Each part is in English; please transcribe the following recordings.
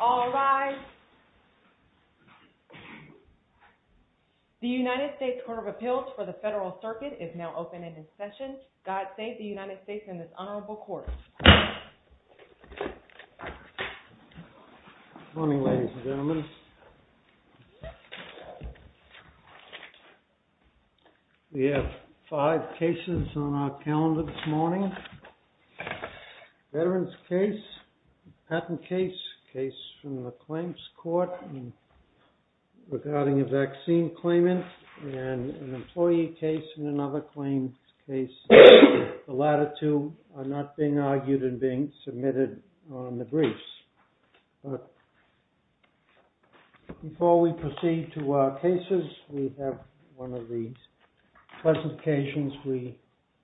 All rise. The United States Court of Appeals for the Federal Circuit is now open into session. We have five cases on our calendar this morning. Veteran's case, patent case, case from the claims court regarding a vaccine claimant, and an employee case and another claims case. The latter two are not being argued and being submitted on the briefs. Before we proceed to our cases, we have one of the pleasant occasions we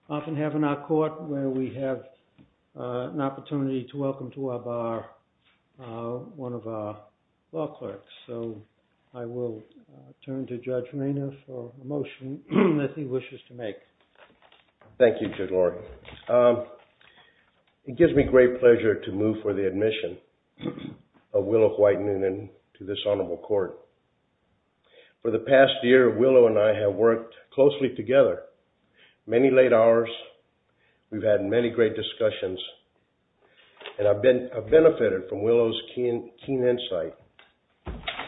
often have in our court where we have an opportunity to welcome to our bar one of our law clerks. So I will turn to Judge Rayner for a motion that he wishes to make. Thank you, Judge Lori. It gives me great pleasure to move for the admission of Willow White-Noonan to this honorable court. For the past year, Willow and I have worked closely together. Many late hours, we've had many great discussions, and I've benefited from Willow's keen insight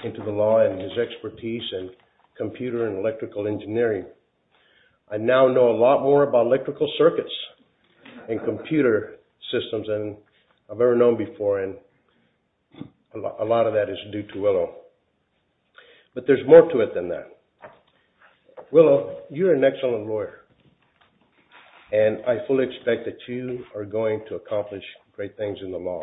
into the law and his expertise in computer and electrical engineering. I now know a lot more about electrical circuits and computer systems than I've ever known before, and a lot of that is due to Willow. But there's more to it than that. Willow, you're an excellent lawyer, and I fully expect that you are going to accomplish great things in the law.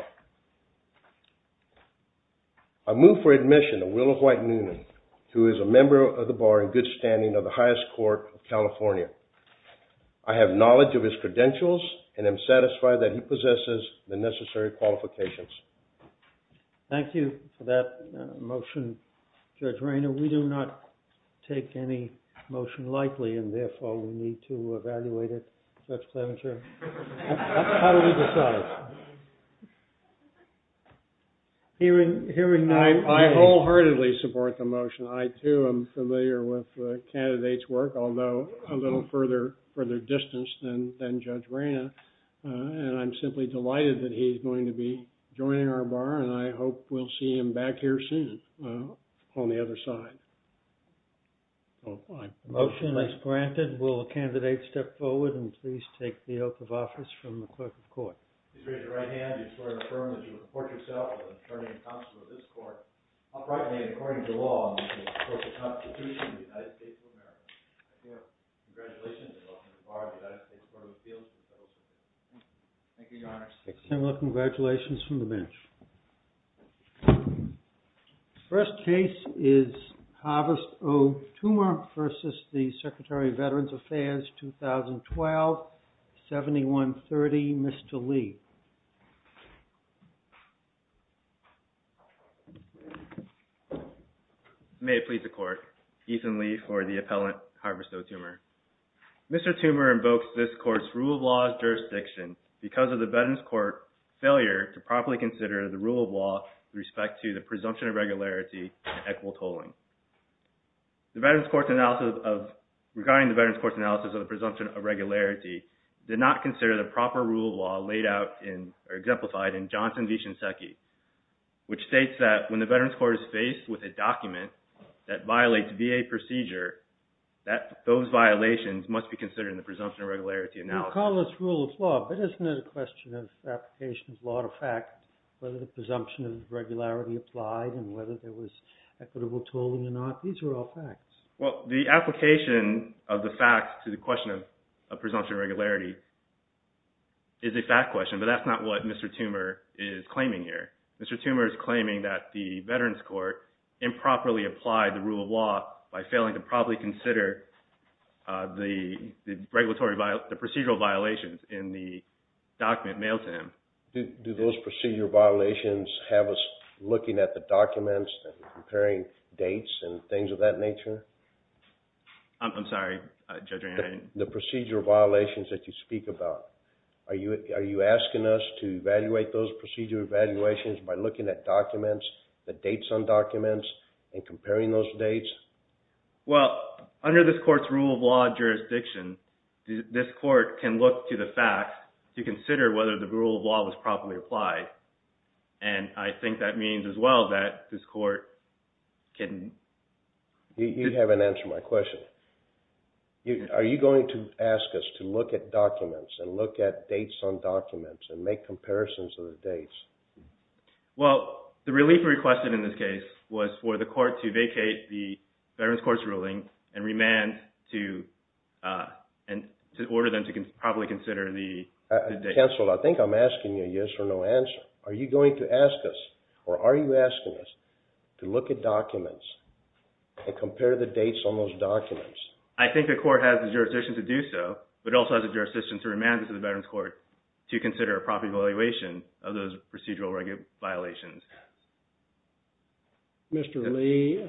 I move for admission of Willow White-Noonan, who is a member of the bar in good standing of the highest court of California. I have knowledge of his credentials and am satisfied that he possesses the necessary qualifications. Thank you for that motion, Judge Rayner. We do not take any motion lightly, and therefore, we need to evaluate it. Judge Clemencher, how do we decide? I wholeheartedly support the motion. I, too, am familiar with the candidate's work, although a little further distance than Judge Rayner, and I'm simply delighted that he's going to be joining our bar, and I hope we'll see him back here soon on the other side. The motion is granted. Will the candidate step forward, and please take the oath of office from the clerk of court. Please raise your right hand and you swear to affirm that you will report yourself as an attorney and counselor of this court, uprightly and according to law, in the name of the court of the Constitution of the United States of America. I hereby report congratulations and welcome to the bar of the United States Court of Appeals. Thank you, Your Honor. Congratulations from the bench. First case is Harvest O. Tumor versus the Secretary of Veterans Affairs, 2012, 7130, Mr. Lee. May it please the court. Ethan Lee for the appellant, Harvest O. Tumor. Mr. Tumor invokes this court's rule of laws jurisdiction because of the Veterans Court failure to properly consider the rule of law with respect to the presumption of regularity and equitable tolling. Regarding the Veterans Court's analysis of the presumption of regularity, did not consider the proper rule of law laid out or exemplified in Johnson v. Shinseki, which states that when the Veterans Court is faced with a document that violates VA procedure, that those violations must be considered in the presumption of regularity analysis. I call this rule of law, but isn't it a question of application of law to fact, whether the presumption of regularity applied and whether there was equitable tolling or not? These are all facts. Well, the application of the facts to the question of presumption of regularity is a fact question, but that's not what Mr. Tumor is claiming here. Mr. Tumor is claiming that the Veterans Court improperly applied the rule of law by failing to properly consider the procedural violations in the document mailed to him. Do those procedural violations have us looking at the documents and comparing dates and things of that nature? I'm sorry, Judge Rehan. The procedural violations that you speak about, are you asking us to evaluate those procedural evaluations by looking at documents, the dates on documents, and comparing those dates? Well, under this court's rule of law jurisdiction, this court can look to the facts to consider whether the rule of law was properly applied, and I think that means as well that this court can... You haven't answered my question. Are you going to ask us to look at documents and look at dates on documents and make comparisons of the dates? Well, the relief requested in this case was for the court to vacate the Veterans Court's ruling and remand to order them to properly consider the dates. Counsel, I think I'm asking you a yes or no answer. Are you going to ask us or are you asking us to look at documents and compare the dates on those documents? I think the court has the jurisdiction to do so, but it also has the jurisdiction to remand this to the Veterans Court to consider a proper evaluation of those procedural violations. Mr. Lee,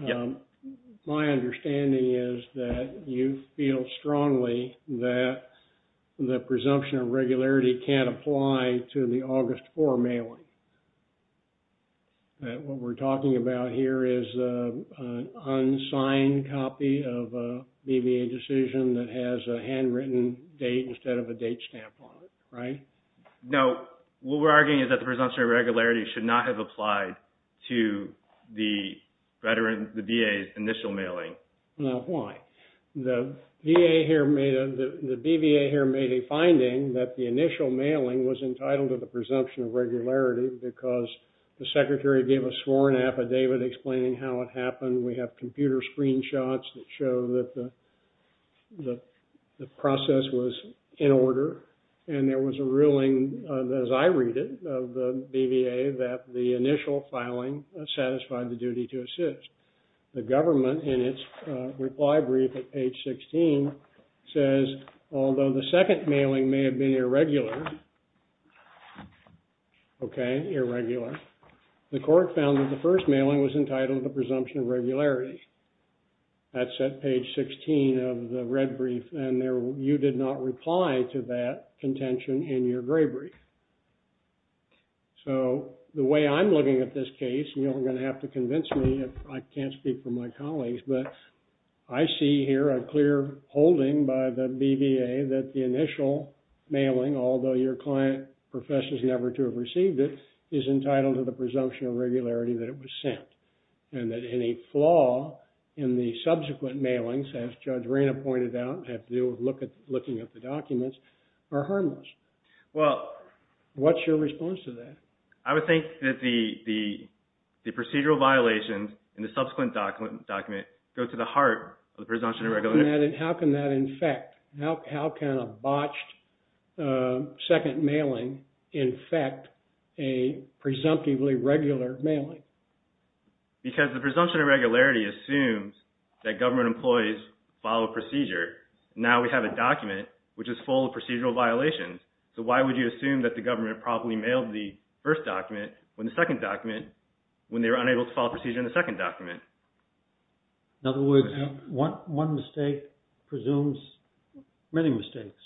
my understanding is that you feel strongly that the presumption of regularity can't apply to the August 4 mailing. What we're talking about here is an unsigned copy of a BVA decision that has a handwritten date instead of a date stamp on it, right? No. What we're arguing is that the presumption of regularity should not have applied to the VA's initial mailing. Now, why? The BVA here made a finding that the initial mailing was entitled to the presumption of regularity because the secretary gave a sworn affidavit explaining how it happened. We have computer screenshots that show that the process was in order, and there was a ruling, as I read it, of the BVA that the initial filing satisfied the duty to assist. The government, in its reply brief at page 16, says, although the second mailing may have been irregular, okay, irregular, the court found that the first mailing was entitled to presumption of regularity. That's at page 16 of the red brief, and you did not reply to that contention in your gray brief. So, the way I'm looking at this case, and you're going to have to convince me if I can't speak for my colleagues, but I see here a clear holding by the BVA that the initial mailing, although your client professes never to have received it, is entitled to the presumption of regularity that it was sent, and that any flaw in the subsequent mailings, as Judge Reina pointed out, have to do with looking at the documents, are harmless. What's your response to that? I would think that the procedural violations in the subsequent document go to the heart of the presumption of regularity. How can that infect? How can a botched second mailing infect a presumptively regular mailing? Because the presumption of regularity assumes that government employees follow procedure. Now, we have a document which is full of procedural violations. So, why would you assume that the government probably mailed the first document when the second document, when they were unable to follow procedure in the second document? In other words, one mistake presumes many mistakes.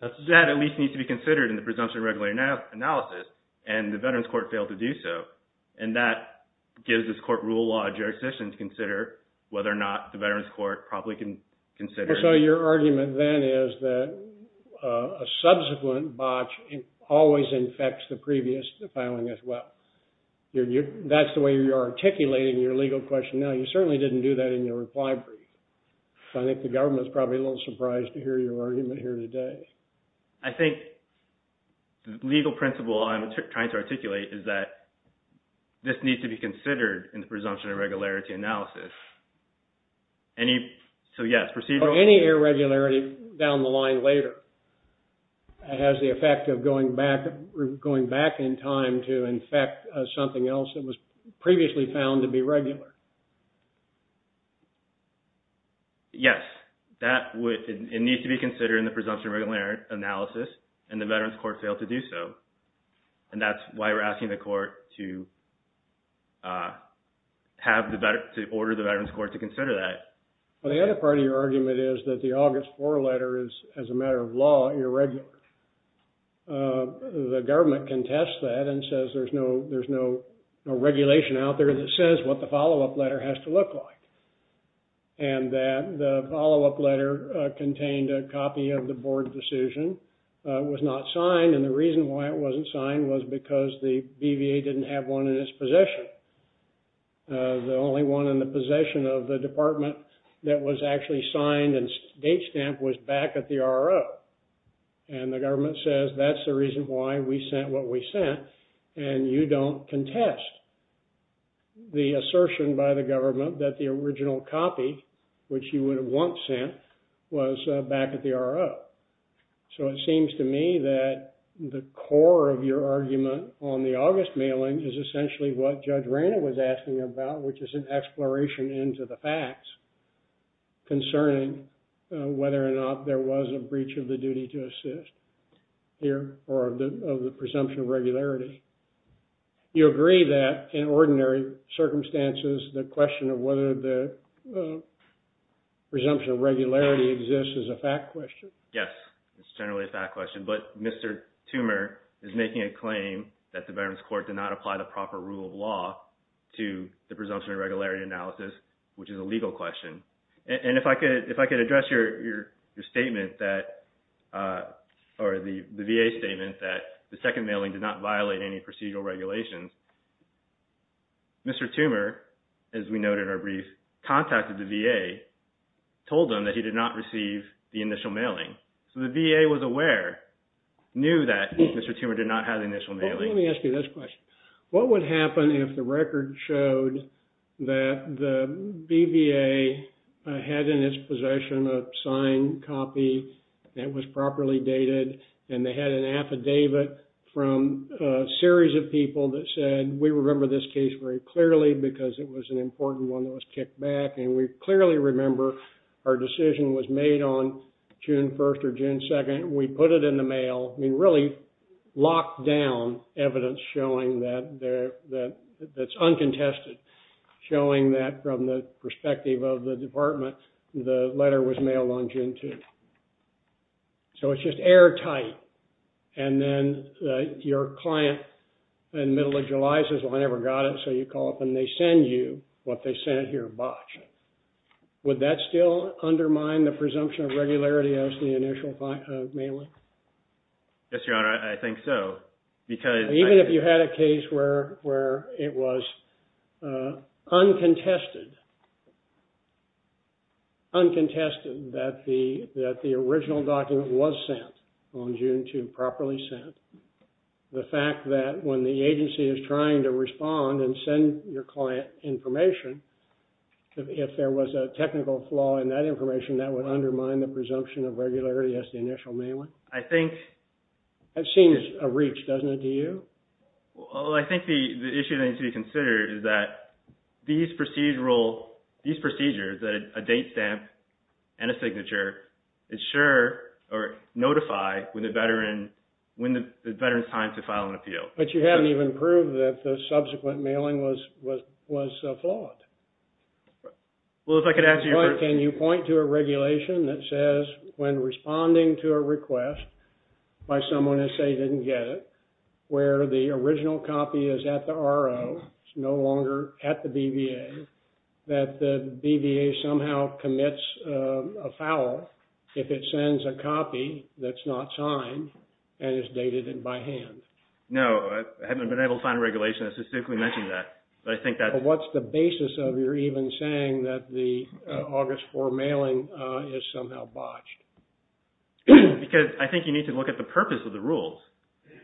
That at least needs to be considered in the presumption of regularity analysis, and the Veterans Court failed to do so. And that gives this court rule law a jurisdiction to consider whether or not the Veterans Court probably can consider it. So, your argument then is that a subsequent botch always infects the previous filing as well. That's the way you're articulating your legal question now. You certainly didn't do that in your reply brief. I think the government's probably a little surprised to hear your argument here today. I think the legal principle I'm trying to articulate is that this needs to be considered in the presumption of regularity analysis. Any, so yes, procedural... Any irregularity down the line later has the effect of going back in time to infect something else that was previously found to be regular. Yes, that would, it needs to be considered in the presumption of regularity analysis, and the Veterans Court failed to do so. And that's why we're asking the court to order the Veterans Court to consider that. Well, the other part of your argument is that the August 4 letter is, as a matter of law, irregular. The government contests that and says there's no regulation out there that says what the follow-up letter has to look like. And that the follow-up letter contained a copy of the board decision. It was not signed, and the reason why it wasn't signed was because the BVA didn't have one in its possession. The only one in the possession of the department that was actually signed and date stamped was back at the RRO. And the government says that's the reason why we sent what we sent, and you don't contest the assertion by the government that the original copy, which you would have once sent, was back at the RRO. So it seems to me that the core of your argument on the August mailing is essentially what Judge Rayna was asking about, which is an exploration into the facts concerning whether or not there was a breach of the duty to assist here or of the presumption of regularity. You agree that, in ordinary circumstances, the question of whether the presumption of regularity exists is a fact question? Yes, it's generally a fact question. But Mr. Toomer is making a claim that the Veterans Court did not apply the proper rule of law to the presumption of regularity analysis, which is a legal question. And if I could address your statement that – or the VA statement that the second mailing did not violate any procedural regulations, Mr. Toomer, as we noted in our brief, contacted the VA, told them that he did not receive the initial mailing. So the VA was aware, knew that Mr. Toomer did not have the initial mailing. Let me ask you this question. What would happen if the record showed that the BVA had in its possession a signed copy that was properly dated, and they had an affidavit from a series of people that said, we remember this case very clearly because it was an important one that was kicked back, and we clearly remember our decision was made on June 1st or June 2nd, and we put it in the mail. We really locked down evidence showing that it's uncontested, showing that from the perspective of the department, the letter was mailed on June 2nd. So it's just airtight. And then your client in the middle of July says, well, I never got it. So you call up and they send you what they sent here, a botch. Would that still undermine the presumption of regularity of the initial mailing? Yes, Your Honor, I think so. Even if you had a case where it was uncontested, uncontested, that the original document was sent on June 2nd, properly sent, the fact that when the agency is trying to respond and send your client information, if there was a technical flaw in that information, that would undermine the presumption of regularity as the initial mailing? I think... That seems a reach, doesn't it, to you? Well, I think the issue that needs to be considered is that these procedural, these procedures, a date stamp and a signature, notify when the veteran's time to file an appeal. But you haven't even proved that the subsequent mailing was flawed. Well, if I could ask you... Can you point to a regulation that says when responding to a request by someone who, say, didn't get it, where the original copy is at the RO, it's no longer at the BVA, that the BVA somehow commits a foul if it sends a copy that's not signed and is dated by hand? No, I haven't been able to find a regulation that specifically mentioned that. But I think that... But what's the basis of your even saying that the August 4 mailing is somehow botched? Because I think you need to look at the purpose of the rules.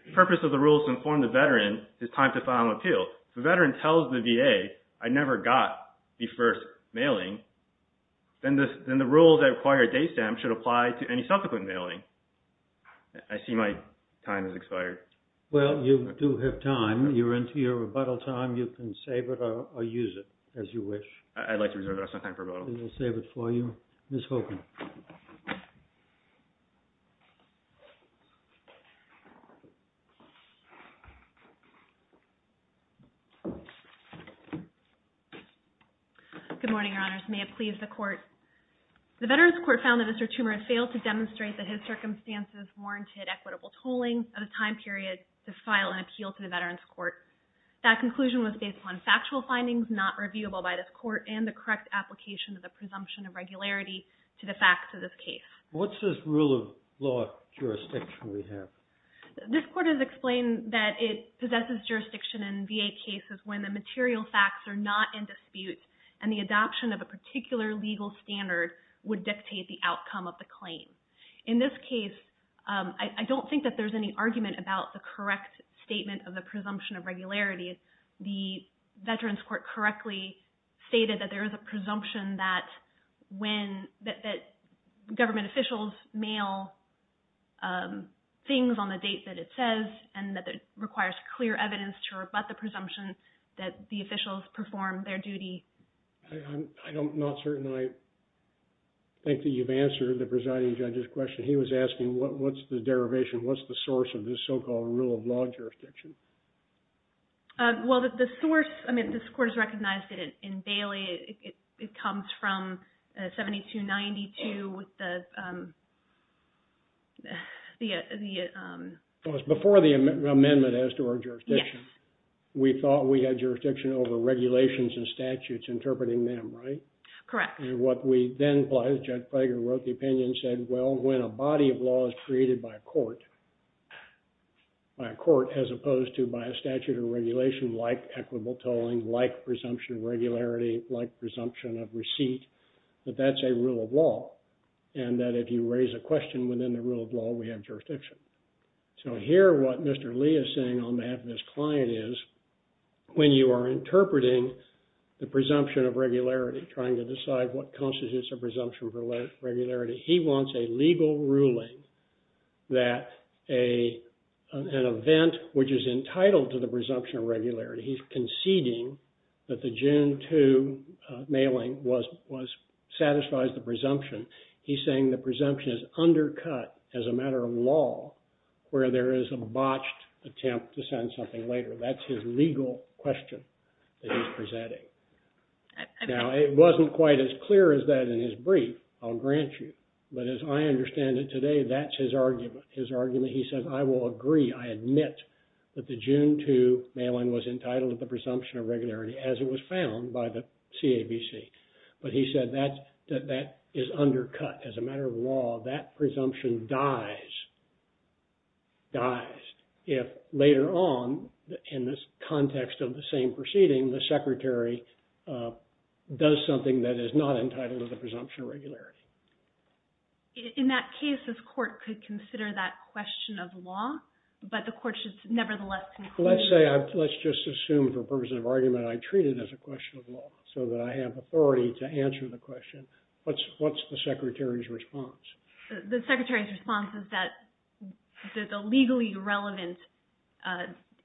The purpose of the rules inform the veteran it's time to file an appeal. If the veteran tells the VA, I never got the first mailing, then the rules that require a date stamp should apply to any subsequent mailing. I see my time has expired. Well, you do have time. You're into your rebuttal time. You can save it or use it as you wish. I'd like to reserve some time for rebuttal. We'll save it for you. Ms. Hogan. Good morning, Your Honors. May it please the Court. The Veterans Court found that Mr. Toomer had failed to demonstrate that his circumstances warranted equitable tolling of the time period to file an appeal to the Veterans Court. That conclusion was based on factual findings not reviewable by this court and the correct application of the presumption of regularity to the facts of this case. This rule of law jurisdiction, this court has explained that it possesses jurisdiction in VA cases when the material facts are not in dispute and the adoption of a particular legal standard would dictate the outcome of the claim. In this case, I don't think that there's any argument about the correct statement of the presumption of regularity. The Veterans Court correctly stated that there is a presumption that government officials mail things on the date that it says and that it requires clear evidence to rebut the presumption that the officials perform their duty. I'm not certain I think that you've answered the presiding judge's question. He was asking what's the derivation, what's the source of this so-called rule of law jurisdiction. Well, the source, I mean, this court has recognized it in Bailey. It comes from 7292 with the... It was before the amendment as to our jurisdiction. We thought we had jurisdiction over regulations and statutes interpreting them, right? Correct. And what we then, Judge Frager wrote the opinion and said, well, when a body of law is created by a court, by a court as opposed to by a statute or regulation like equitable tolling, like presumption of regularity, like presumption of receipt, that that's a rule of law and that if you raise a question within the rule of law, we have jurisdiction. So here what Mr. Lee is saying on behalf of his client is when you are interpreting the presumption of regularity, trying to decide what constitutes a presumption of regularity, he wants a legal ruling that an event which is entitled to the presumption of regularity, he's conceding that the June 2 mailing satisfies the presumption. He's saying the presumption is undercut as a matter of law where there is a botched attempt to send something later. That's his legal question that he's presenting. Now, it wasn't quite as clear as that in his brief, I'll grant you. But as I understand it today, that's his argument. His argument, he says, I will agree, I admit that the June 2 mailing was entitled to the presumption of regularity as it was found by the CABC. But he said that that is undercut as a matter of law. That presumption dies, dies if later on in this context of the same proceeding, the secretary does something that is not entitled to the presumption of regularity. In that case, this court could consider that question of law, but the court should nevertheless conclude... Let's say, let's just assume for purposes of argument, I treat it as a question of law so that I have authority to answer the question. What's the secretary's response? The secretary's response is that the legally relevant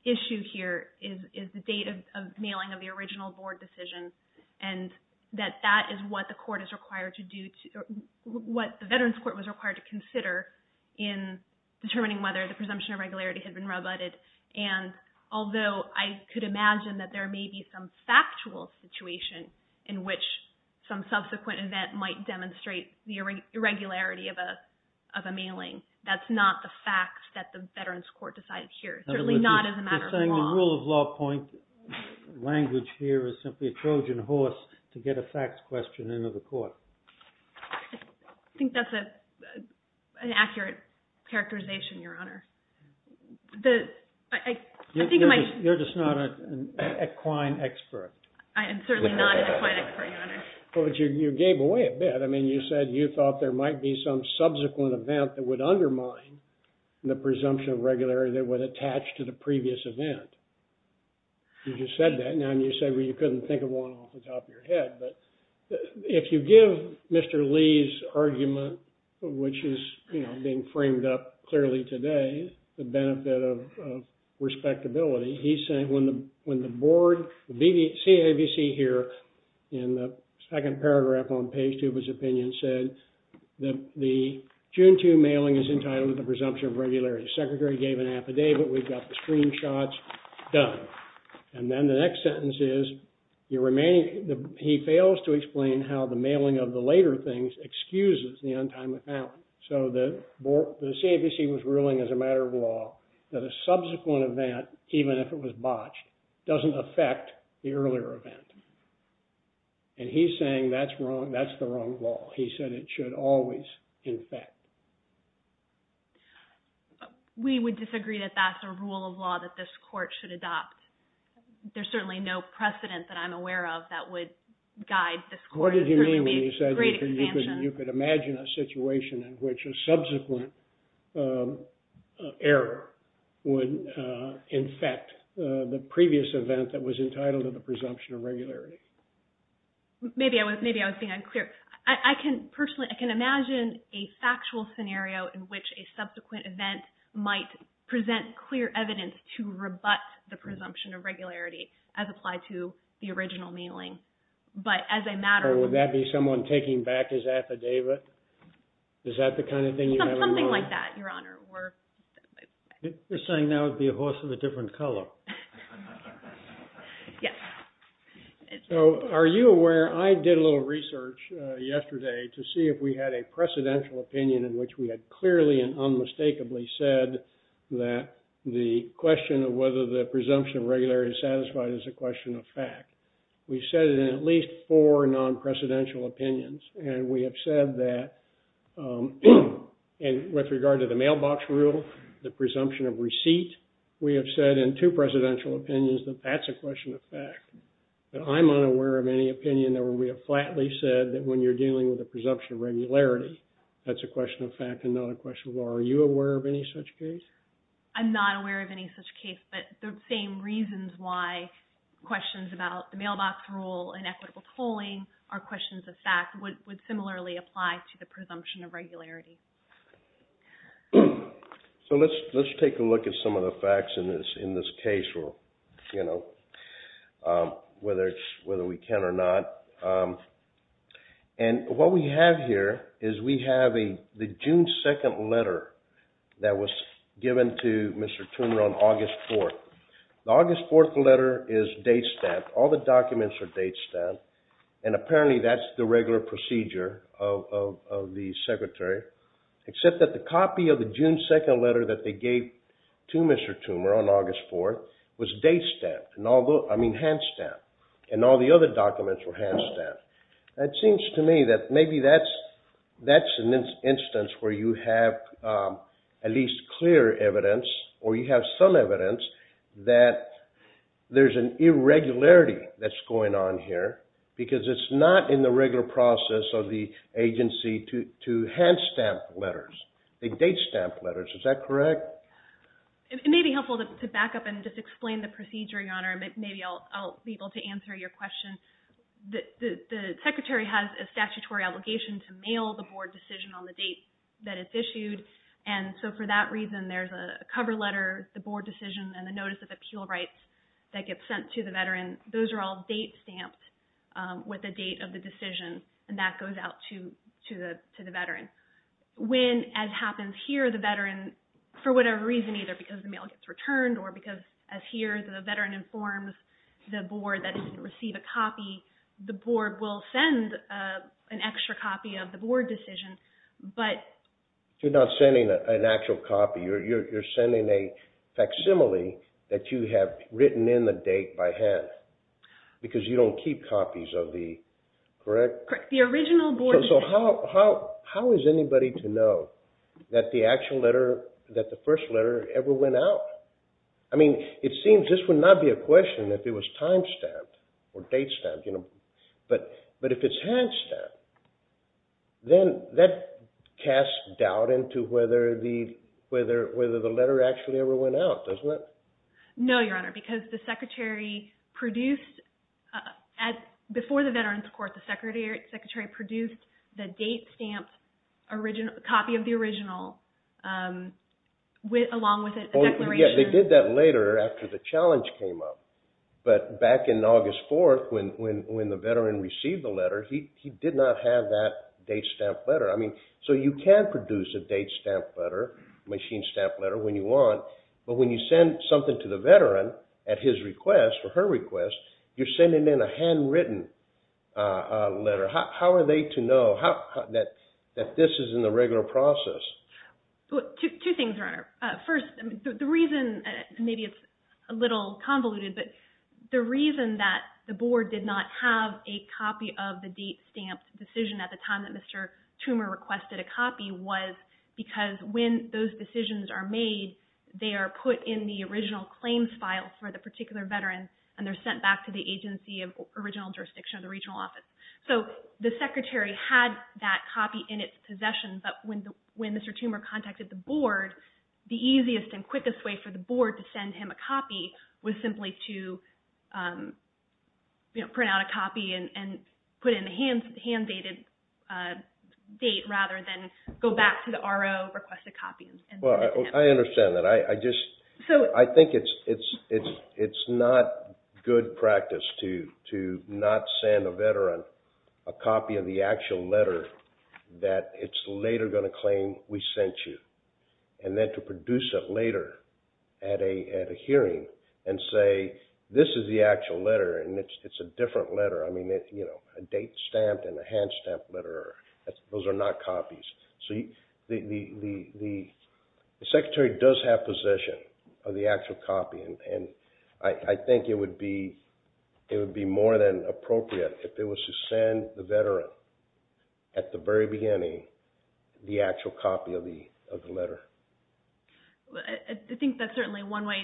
issue here is the date of mailing of the original board decision and that that is what the court is required to do, what the Veterans Court was required to consider in determining whether the presumption of regularity had been rebutted. And although I could imagine that there may be some factual situation in which some subsequent event might demonstrate the irregularity of a mailing, that's not the facts that the Veterans Court decided here, certainly not as a matter of law. You're saying the rule of law point language here is simply a Trojan horse to get a facts question into the court. I think that's an accurate characterization, Your Honor. You're just not an equine expert. I am certainly not an equine expert, Your Honor. Well, but you gave away a bit. I mean, you said you thought there might be some subsequent event that would undermine the presumption of regularity that was attached to the previous event. You just said that. Now, you said you couldn't think of one off the top of your head, but if you give Mr. Lee's argument, which is being framed up clearly today, the benefit of respectability, he's saying when the board, the CAVC here, in the second paragraph on page two of his opinion said that the June 2 mailing is entitled to the presumption of regularity. Secretary gave an affidavit. We've got the screenshots done. And then the next sentence is, he fails to explain how the mailing of the later things excuses the untimely found. So the CAVC was ruling as a matter of law that a subsequent event, even if it was botched, doesn't affect the earlier event. And he's saying that's wrong. That's the wrong law. He said it should always infect. We would disagree that that's a rule of law that this court should adopt. There's certainly no precedent that I'm aware of that would guide this court. What did you mean when you said you could imagine a situation in which a subsequent error would infect the previous event that was entitled to the presumption of regularity? Maybe I was being unclear. I can personally, I can imagine a factual scenario in which a subsequent event might present clear evidence to rebut the presumption of regularity as applied to the original mailing. But as a matter of... Is that the kind of thing you had in mind? Something like that, Your Honor. You're saying that would be a horse of a different color. Yes. So are you aware, I did a little research yesterday to see if we had a precedential opinion in which we had clearly and unmistakably said that the question of whether the presumption of regularity is satisfied is a question of fact. We said it in at least four non-precedential opinions. And we have said that with regard to the mailbox rule, the presumption of receipt, we have said in two precedential opinions that that's a question of fact. I'm unaware of any opinion where we have flatly said that when you're dealing with the presumption of regularity, that's a question of fact and not a question of law. Are you aware of any such case? I'm not aware of any such case, but the same reasons why questions about the mailbox rule and equitable tolling are questions of fact would similarly apply to the presumption of regularity. So let's take a look at some of the facts in this case, whether we can or not. And what we have here is we have the June 2nd letter that was given to Mr. Turner on August 4th. The August 4th letter is date stamped. All the documents are date stamped. And apparently that's the regular procedure of the Secretary, except that the copy of the June 2nd letter that they gave to Mr. Turner on August 4th was hand stamped, and all the other documents were hand stamped. That seems to me that maybe that's an instance where you have at least clear evidence, or you have some evidence, that there's an irregularity that's going on here. Because it's not in the regular process of the agency to hand stamp letters. They date stamp letters. Is that correct? It may be helpful to back up and just explain the procedure, Your Honor. Maybe I'll be able to answer your question. The Secretary has a statutory obligation to mail the Board decision on the date that it's issued. And so for that reason, there's a cover letter, the Board decision, and the notice of appeal rights that gets sent to the veteran. Those are all date stamped with the date of the decision, and that goes out to the veteran. When, as happens here, the veteran, for whatever reason, either because the mail gets returned, or because, as here, the veteran informs the Board that if you receive a copy, the Board will send an extra copy of the Board decision. But... You're not sending an actual copy. You're sending a facsimile that you have written in the date by hand because you don't keep copies of the... Correct? So how is anybody to know that the first letter ever went out? I mean, it seems this would not be a question if it was time stamped or date stamped. But if it's hand stamped, then that casts doubt into whether the letter actually ever went out, doesn't it? No, Your Honor, because the secretary produced... Before the veterans, of course, the secretary produced the date stamped copy of the original along with a declaration. Yeah, they did that later after the challenge came up. But back in August 4th, when the veteran received the letter, he did not have that date stamped letter. So you can produce a date stamped letter, a machine stamped letter when you want, but when you send something to the veteran at his request, or her request, you're sending in a handwritten letter. How are they to know that this is in the regular process? Two things, Your Honor. First, the reason... Maybe it's a little convoluted, but the reason that the Board did not have a copy of the date stamped decision at the time that Mr. Toomer requested a copy was because when those decisions are made, they are put in the original claims file for the particular veteran, and they're sent back to the agency of original jurisdiction of the regional office. So the secretary had that copy in its possession, but when Mr. Toomer contacted the Board, the easiest and quickest way for the Board to send him a copy was simply to print out a copy and put in the hand-dated date rather than go back to the RO, request a copy. Well, I understand that. I think it's not good practice to not send a veteran a copy of the actual letter that it's later going to claim we sent you, and then to produce it later at a hearing and say, this is the actual letter, and it's a different letter. I mean, a date stamped and a hand-stamped letter, those are not copies. So the secretary does have possession of the actual copy, and I think it would be more than appropriate if it was to send the veteran at the very beginning the actual copy of the letter. I think that's certainly one way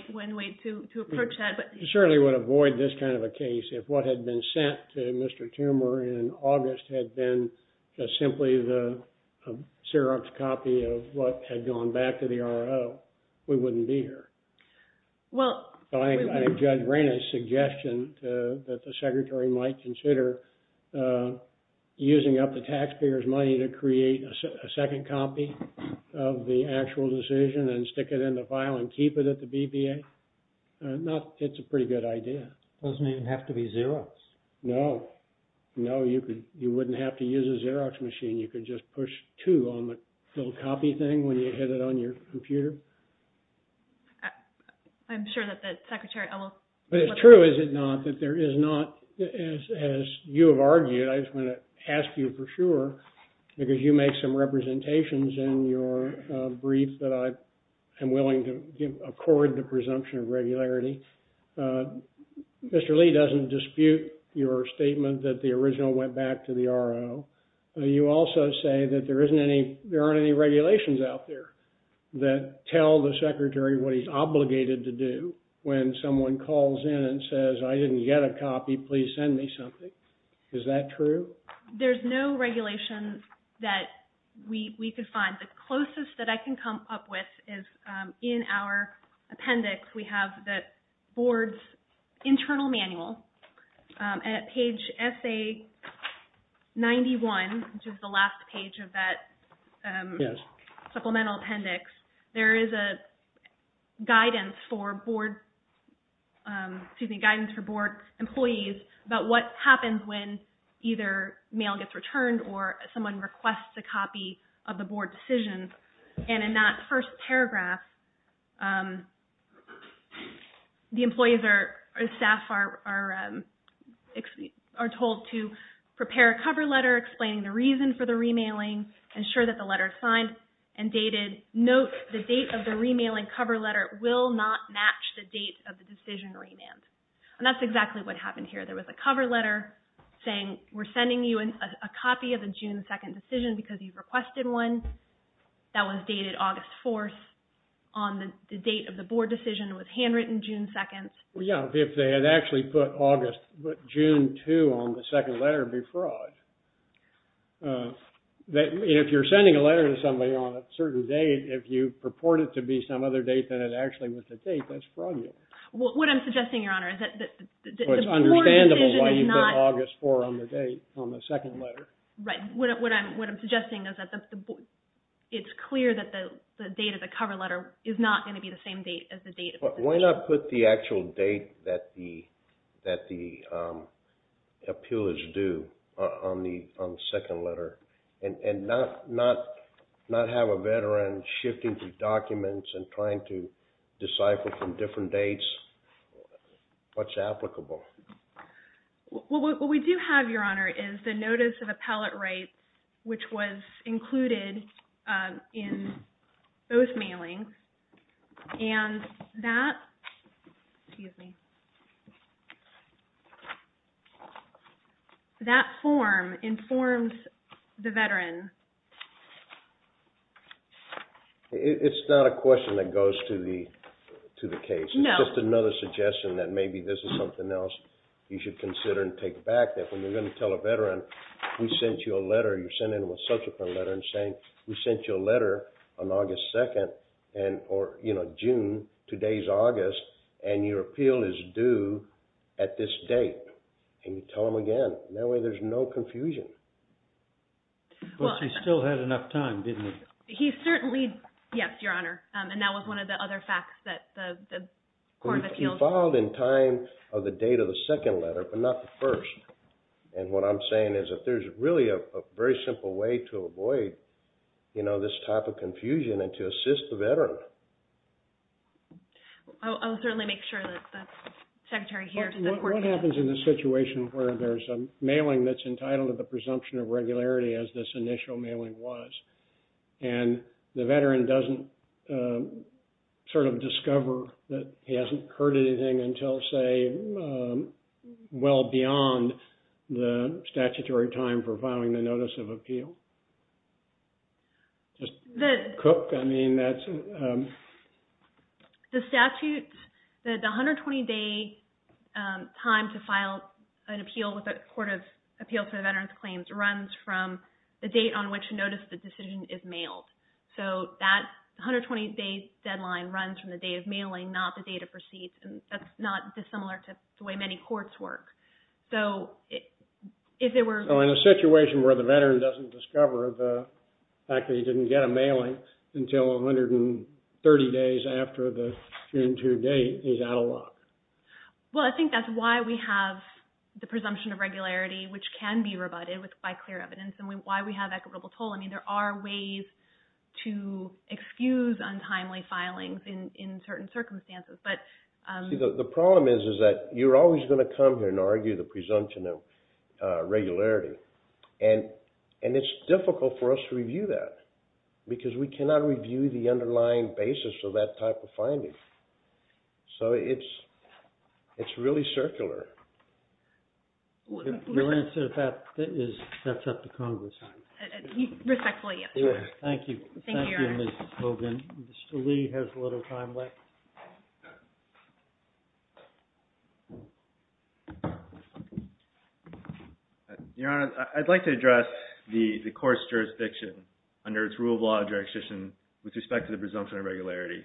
to approach that. I certainly would avoid this kind of a case. If what had been sent to Mr. Toomer in August had been simply the syrups copy of what had gone back to the RO, we wouldn't be here. I think Judge Brennan's suggestion that the secretary might consider using up the taxpayers' money to create a second copy of the actual decision and stick it in the file and keep it at the BBA, it's a pretty good idea. It doesn't even have to be Xerox. No. No, you wouldn't have to use a Xerox machine. You could just push 2 on the little copy thing when you hit it on your computer. I'm sure that the secretary will flip it. But it's true, is it not, that there is not, as you have argued, I just want to ask you for sure, because you make some representations in your brief that I am willing to accord the presumption of regularity. Mr. Lee doesn't dispute your statement that the original went back to the RO. You also say that there aren't any regulations out there that tell the secretary what he's obligated to do when someone calls in and says, I didn't get a copy, please send me something. Is that true? There's no regulation that we could find. The closest that I can come up with is in our appendix. We have the board's internal manual. At page SA91, which is the last page of that supplemental appendix, there is a guidance for board employees about what happens when either mail gets returned or someone requests a copy of the board decisions. And in that first paragraph, the employees or staff are told to prepare a cover letter explaining the reason for the remailing, ensure that the letter is signed and dated, note the date of the remailing cover letter will not match the date of the decision remand. And that's exactly what happened here. There was a cover letter saying, we're asking for a copy of the June 2 decision because you've requested one. That was dated August 4 on the date of the board decision. It was handwritten June 2. Yeah, if they had actually put June 2 on the second letter, it would be fraud. If you're sending a letter to somebody on a certain date, if you purport it to be some other date than it actually was the date, that's fraudulent. What I'm suggesting, Your Honor, is that the board decision is not August 4 on the date on the second letter. Right. What I'm suggesting is that it's clear that the date of the cover letter is not going to be the same date as the date of the decision. Why not put the actual date that the appeal is due on the second letter? And not have a veteran shifting through documents and trying to decipher from different dates what's applicable. Well, what we do have, Your Honor, is the notice of appellate rights, which was included in both mailings. And that form informs the veteran. It's not a question that goes to the case. It's just another suggestion that maybe this is something else you should consider and take back, that when you're going to tell a veteran we sent you a letter, you're sending them a subsequent letter and saying, we sent you a letter on August 2, or June. Today's August. And your appeal is due at this date. And you tell them again. That way there's no confusion. But she still had enough time, didn't she? Yes, Your Honor. And that was one of the other facts that the court appealed. It evolved in time of the date of the second letter, but not the first. And what I'm saying is that there's really a very simple way to avoid this type of confusion and to assist the veteran. I'll certainly make sure that the Secretary hears the court. What happens in the situation where there's a mailing that's entitled to the presumption of regularity, as this initial mailing was, and the veteran doesn't discover that he hasn't heard anything until, say, well beyond the statutory time for filing the notice of appeal? The statute, the 120-day time to file an appeal with the Court of Appeals for Veterans Claims runs from the date on which notice the decision is mailed. So that 120-day deadline runs from the day of mailing, not the date of receipt. And that's not dissimilar to the way many courts work. So in a situation where the veteran doesn't discover the fact that he didn't get a mailing until 130 days after the June 2 date, he's out of luck. Well, I think that's why we have the presumption of regularity, which can be rebutted by clear evidence, and why we have equitable toll. I mean, there are ways to excuse untimely filings in certain circumstances. See, the problem is that you're always going to come here and argue the presumption of regularity. And it's difficult for us to review that, because we cannot review the underlying basis of that type of finding. So it's really circular. Your answer to that is, that's up to Congress. Respectfully, yes. Thank you. Thank you, Your Honor. Thank you, Ms. Hogan. Mr. Lee has a little time left. Your Honor, I'd like to address the court's jurisdiction under its rule of law jurisdiction with respect to the presumption of regularity.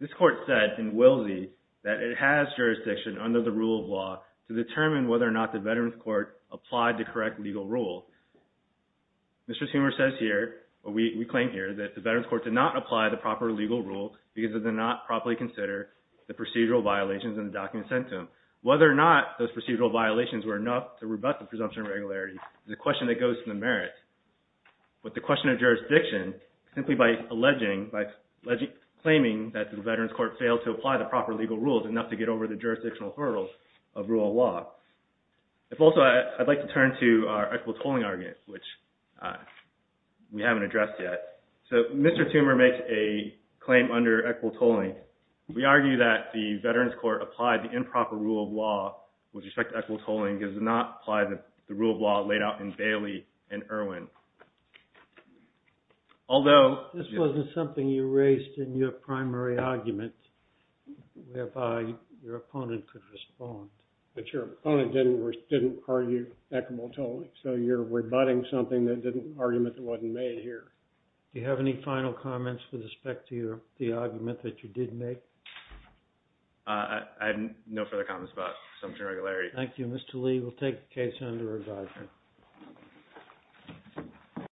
This court said in Wilsey that it has jurisdiction under the rule of law to determine whether or not the Veterans Court applied the correct legal rules. Mr. Schumer says here, or we claim here, that the Veterans Court did not apply the proper legal rules because it did not properly consider the procedural violations in the document sent to him. Whether or not those procedural violations were enough to rebut the presumption of regularity is a question that goes to the merits. But the question of jurisdiction, simply by alleging, by claiming that the Veterans Court failed to apply the proper legal rules enough to get over the jurisdictional hurdles of rule of law. If also, I'd like to turn to our equitable tolling argument, which we haven't addressed yet. So Mr. Schumer makes a claim under equitable tolling. We argue that the Veterans Court applied the improper rule of law with respect to equitable tolling because it did not apply the rule of law laid out in Bailey and Irwin. Although, this wasn't something you raised in your primary argument whereby your opponent could respond. But your opponent didn't argue equitable tolling. So you're rebutting something that didn't argument that wasn't made here. Do you have any final comments with respect to the argument that you did make? I have no further comments about presumption of regularity. Thank you, Mr. Lee. We'll take the case under review.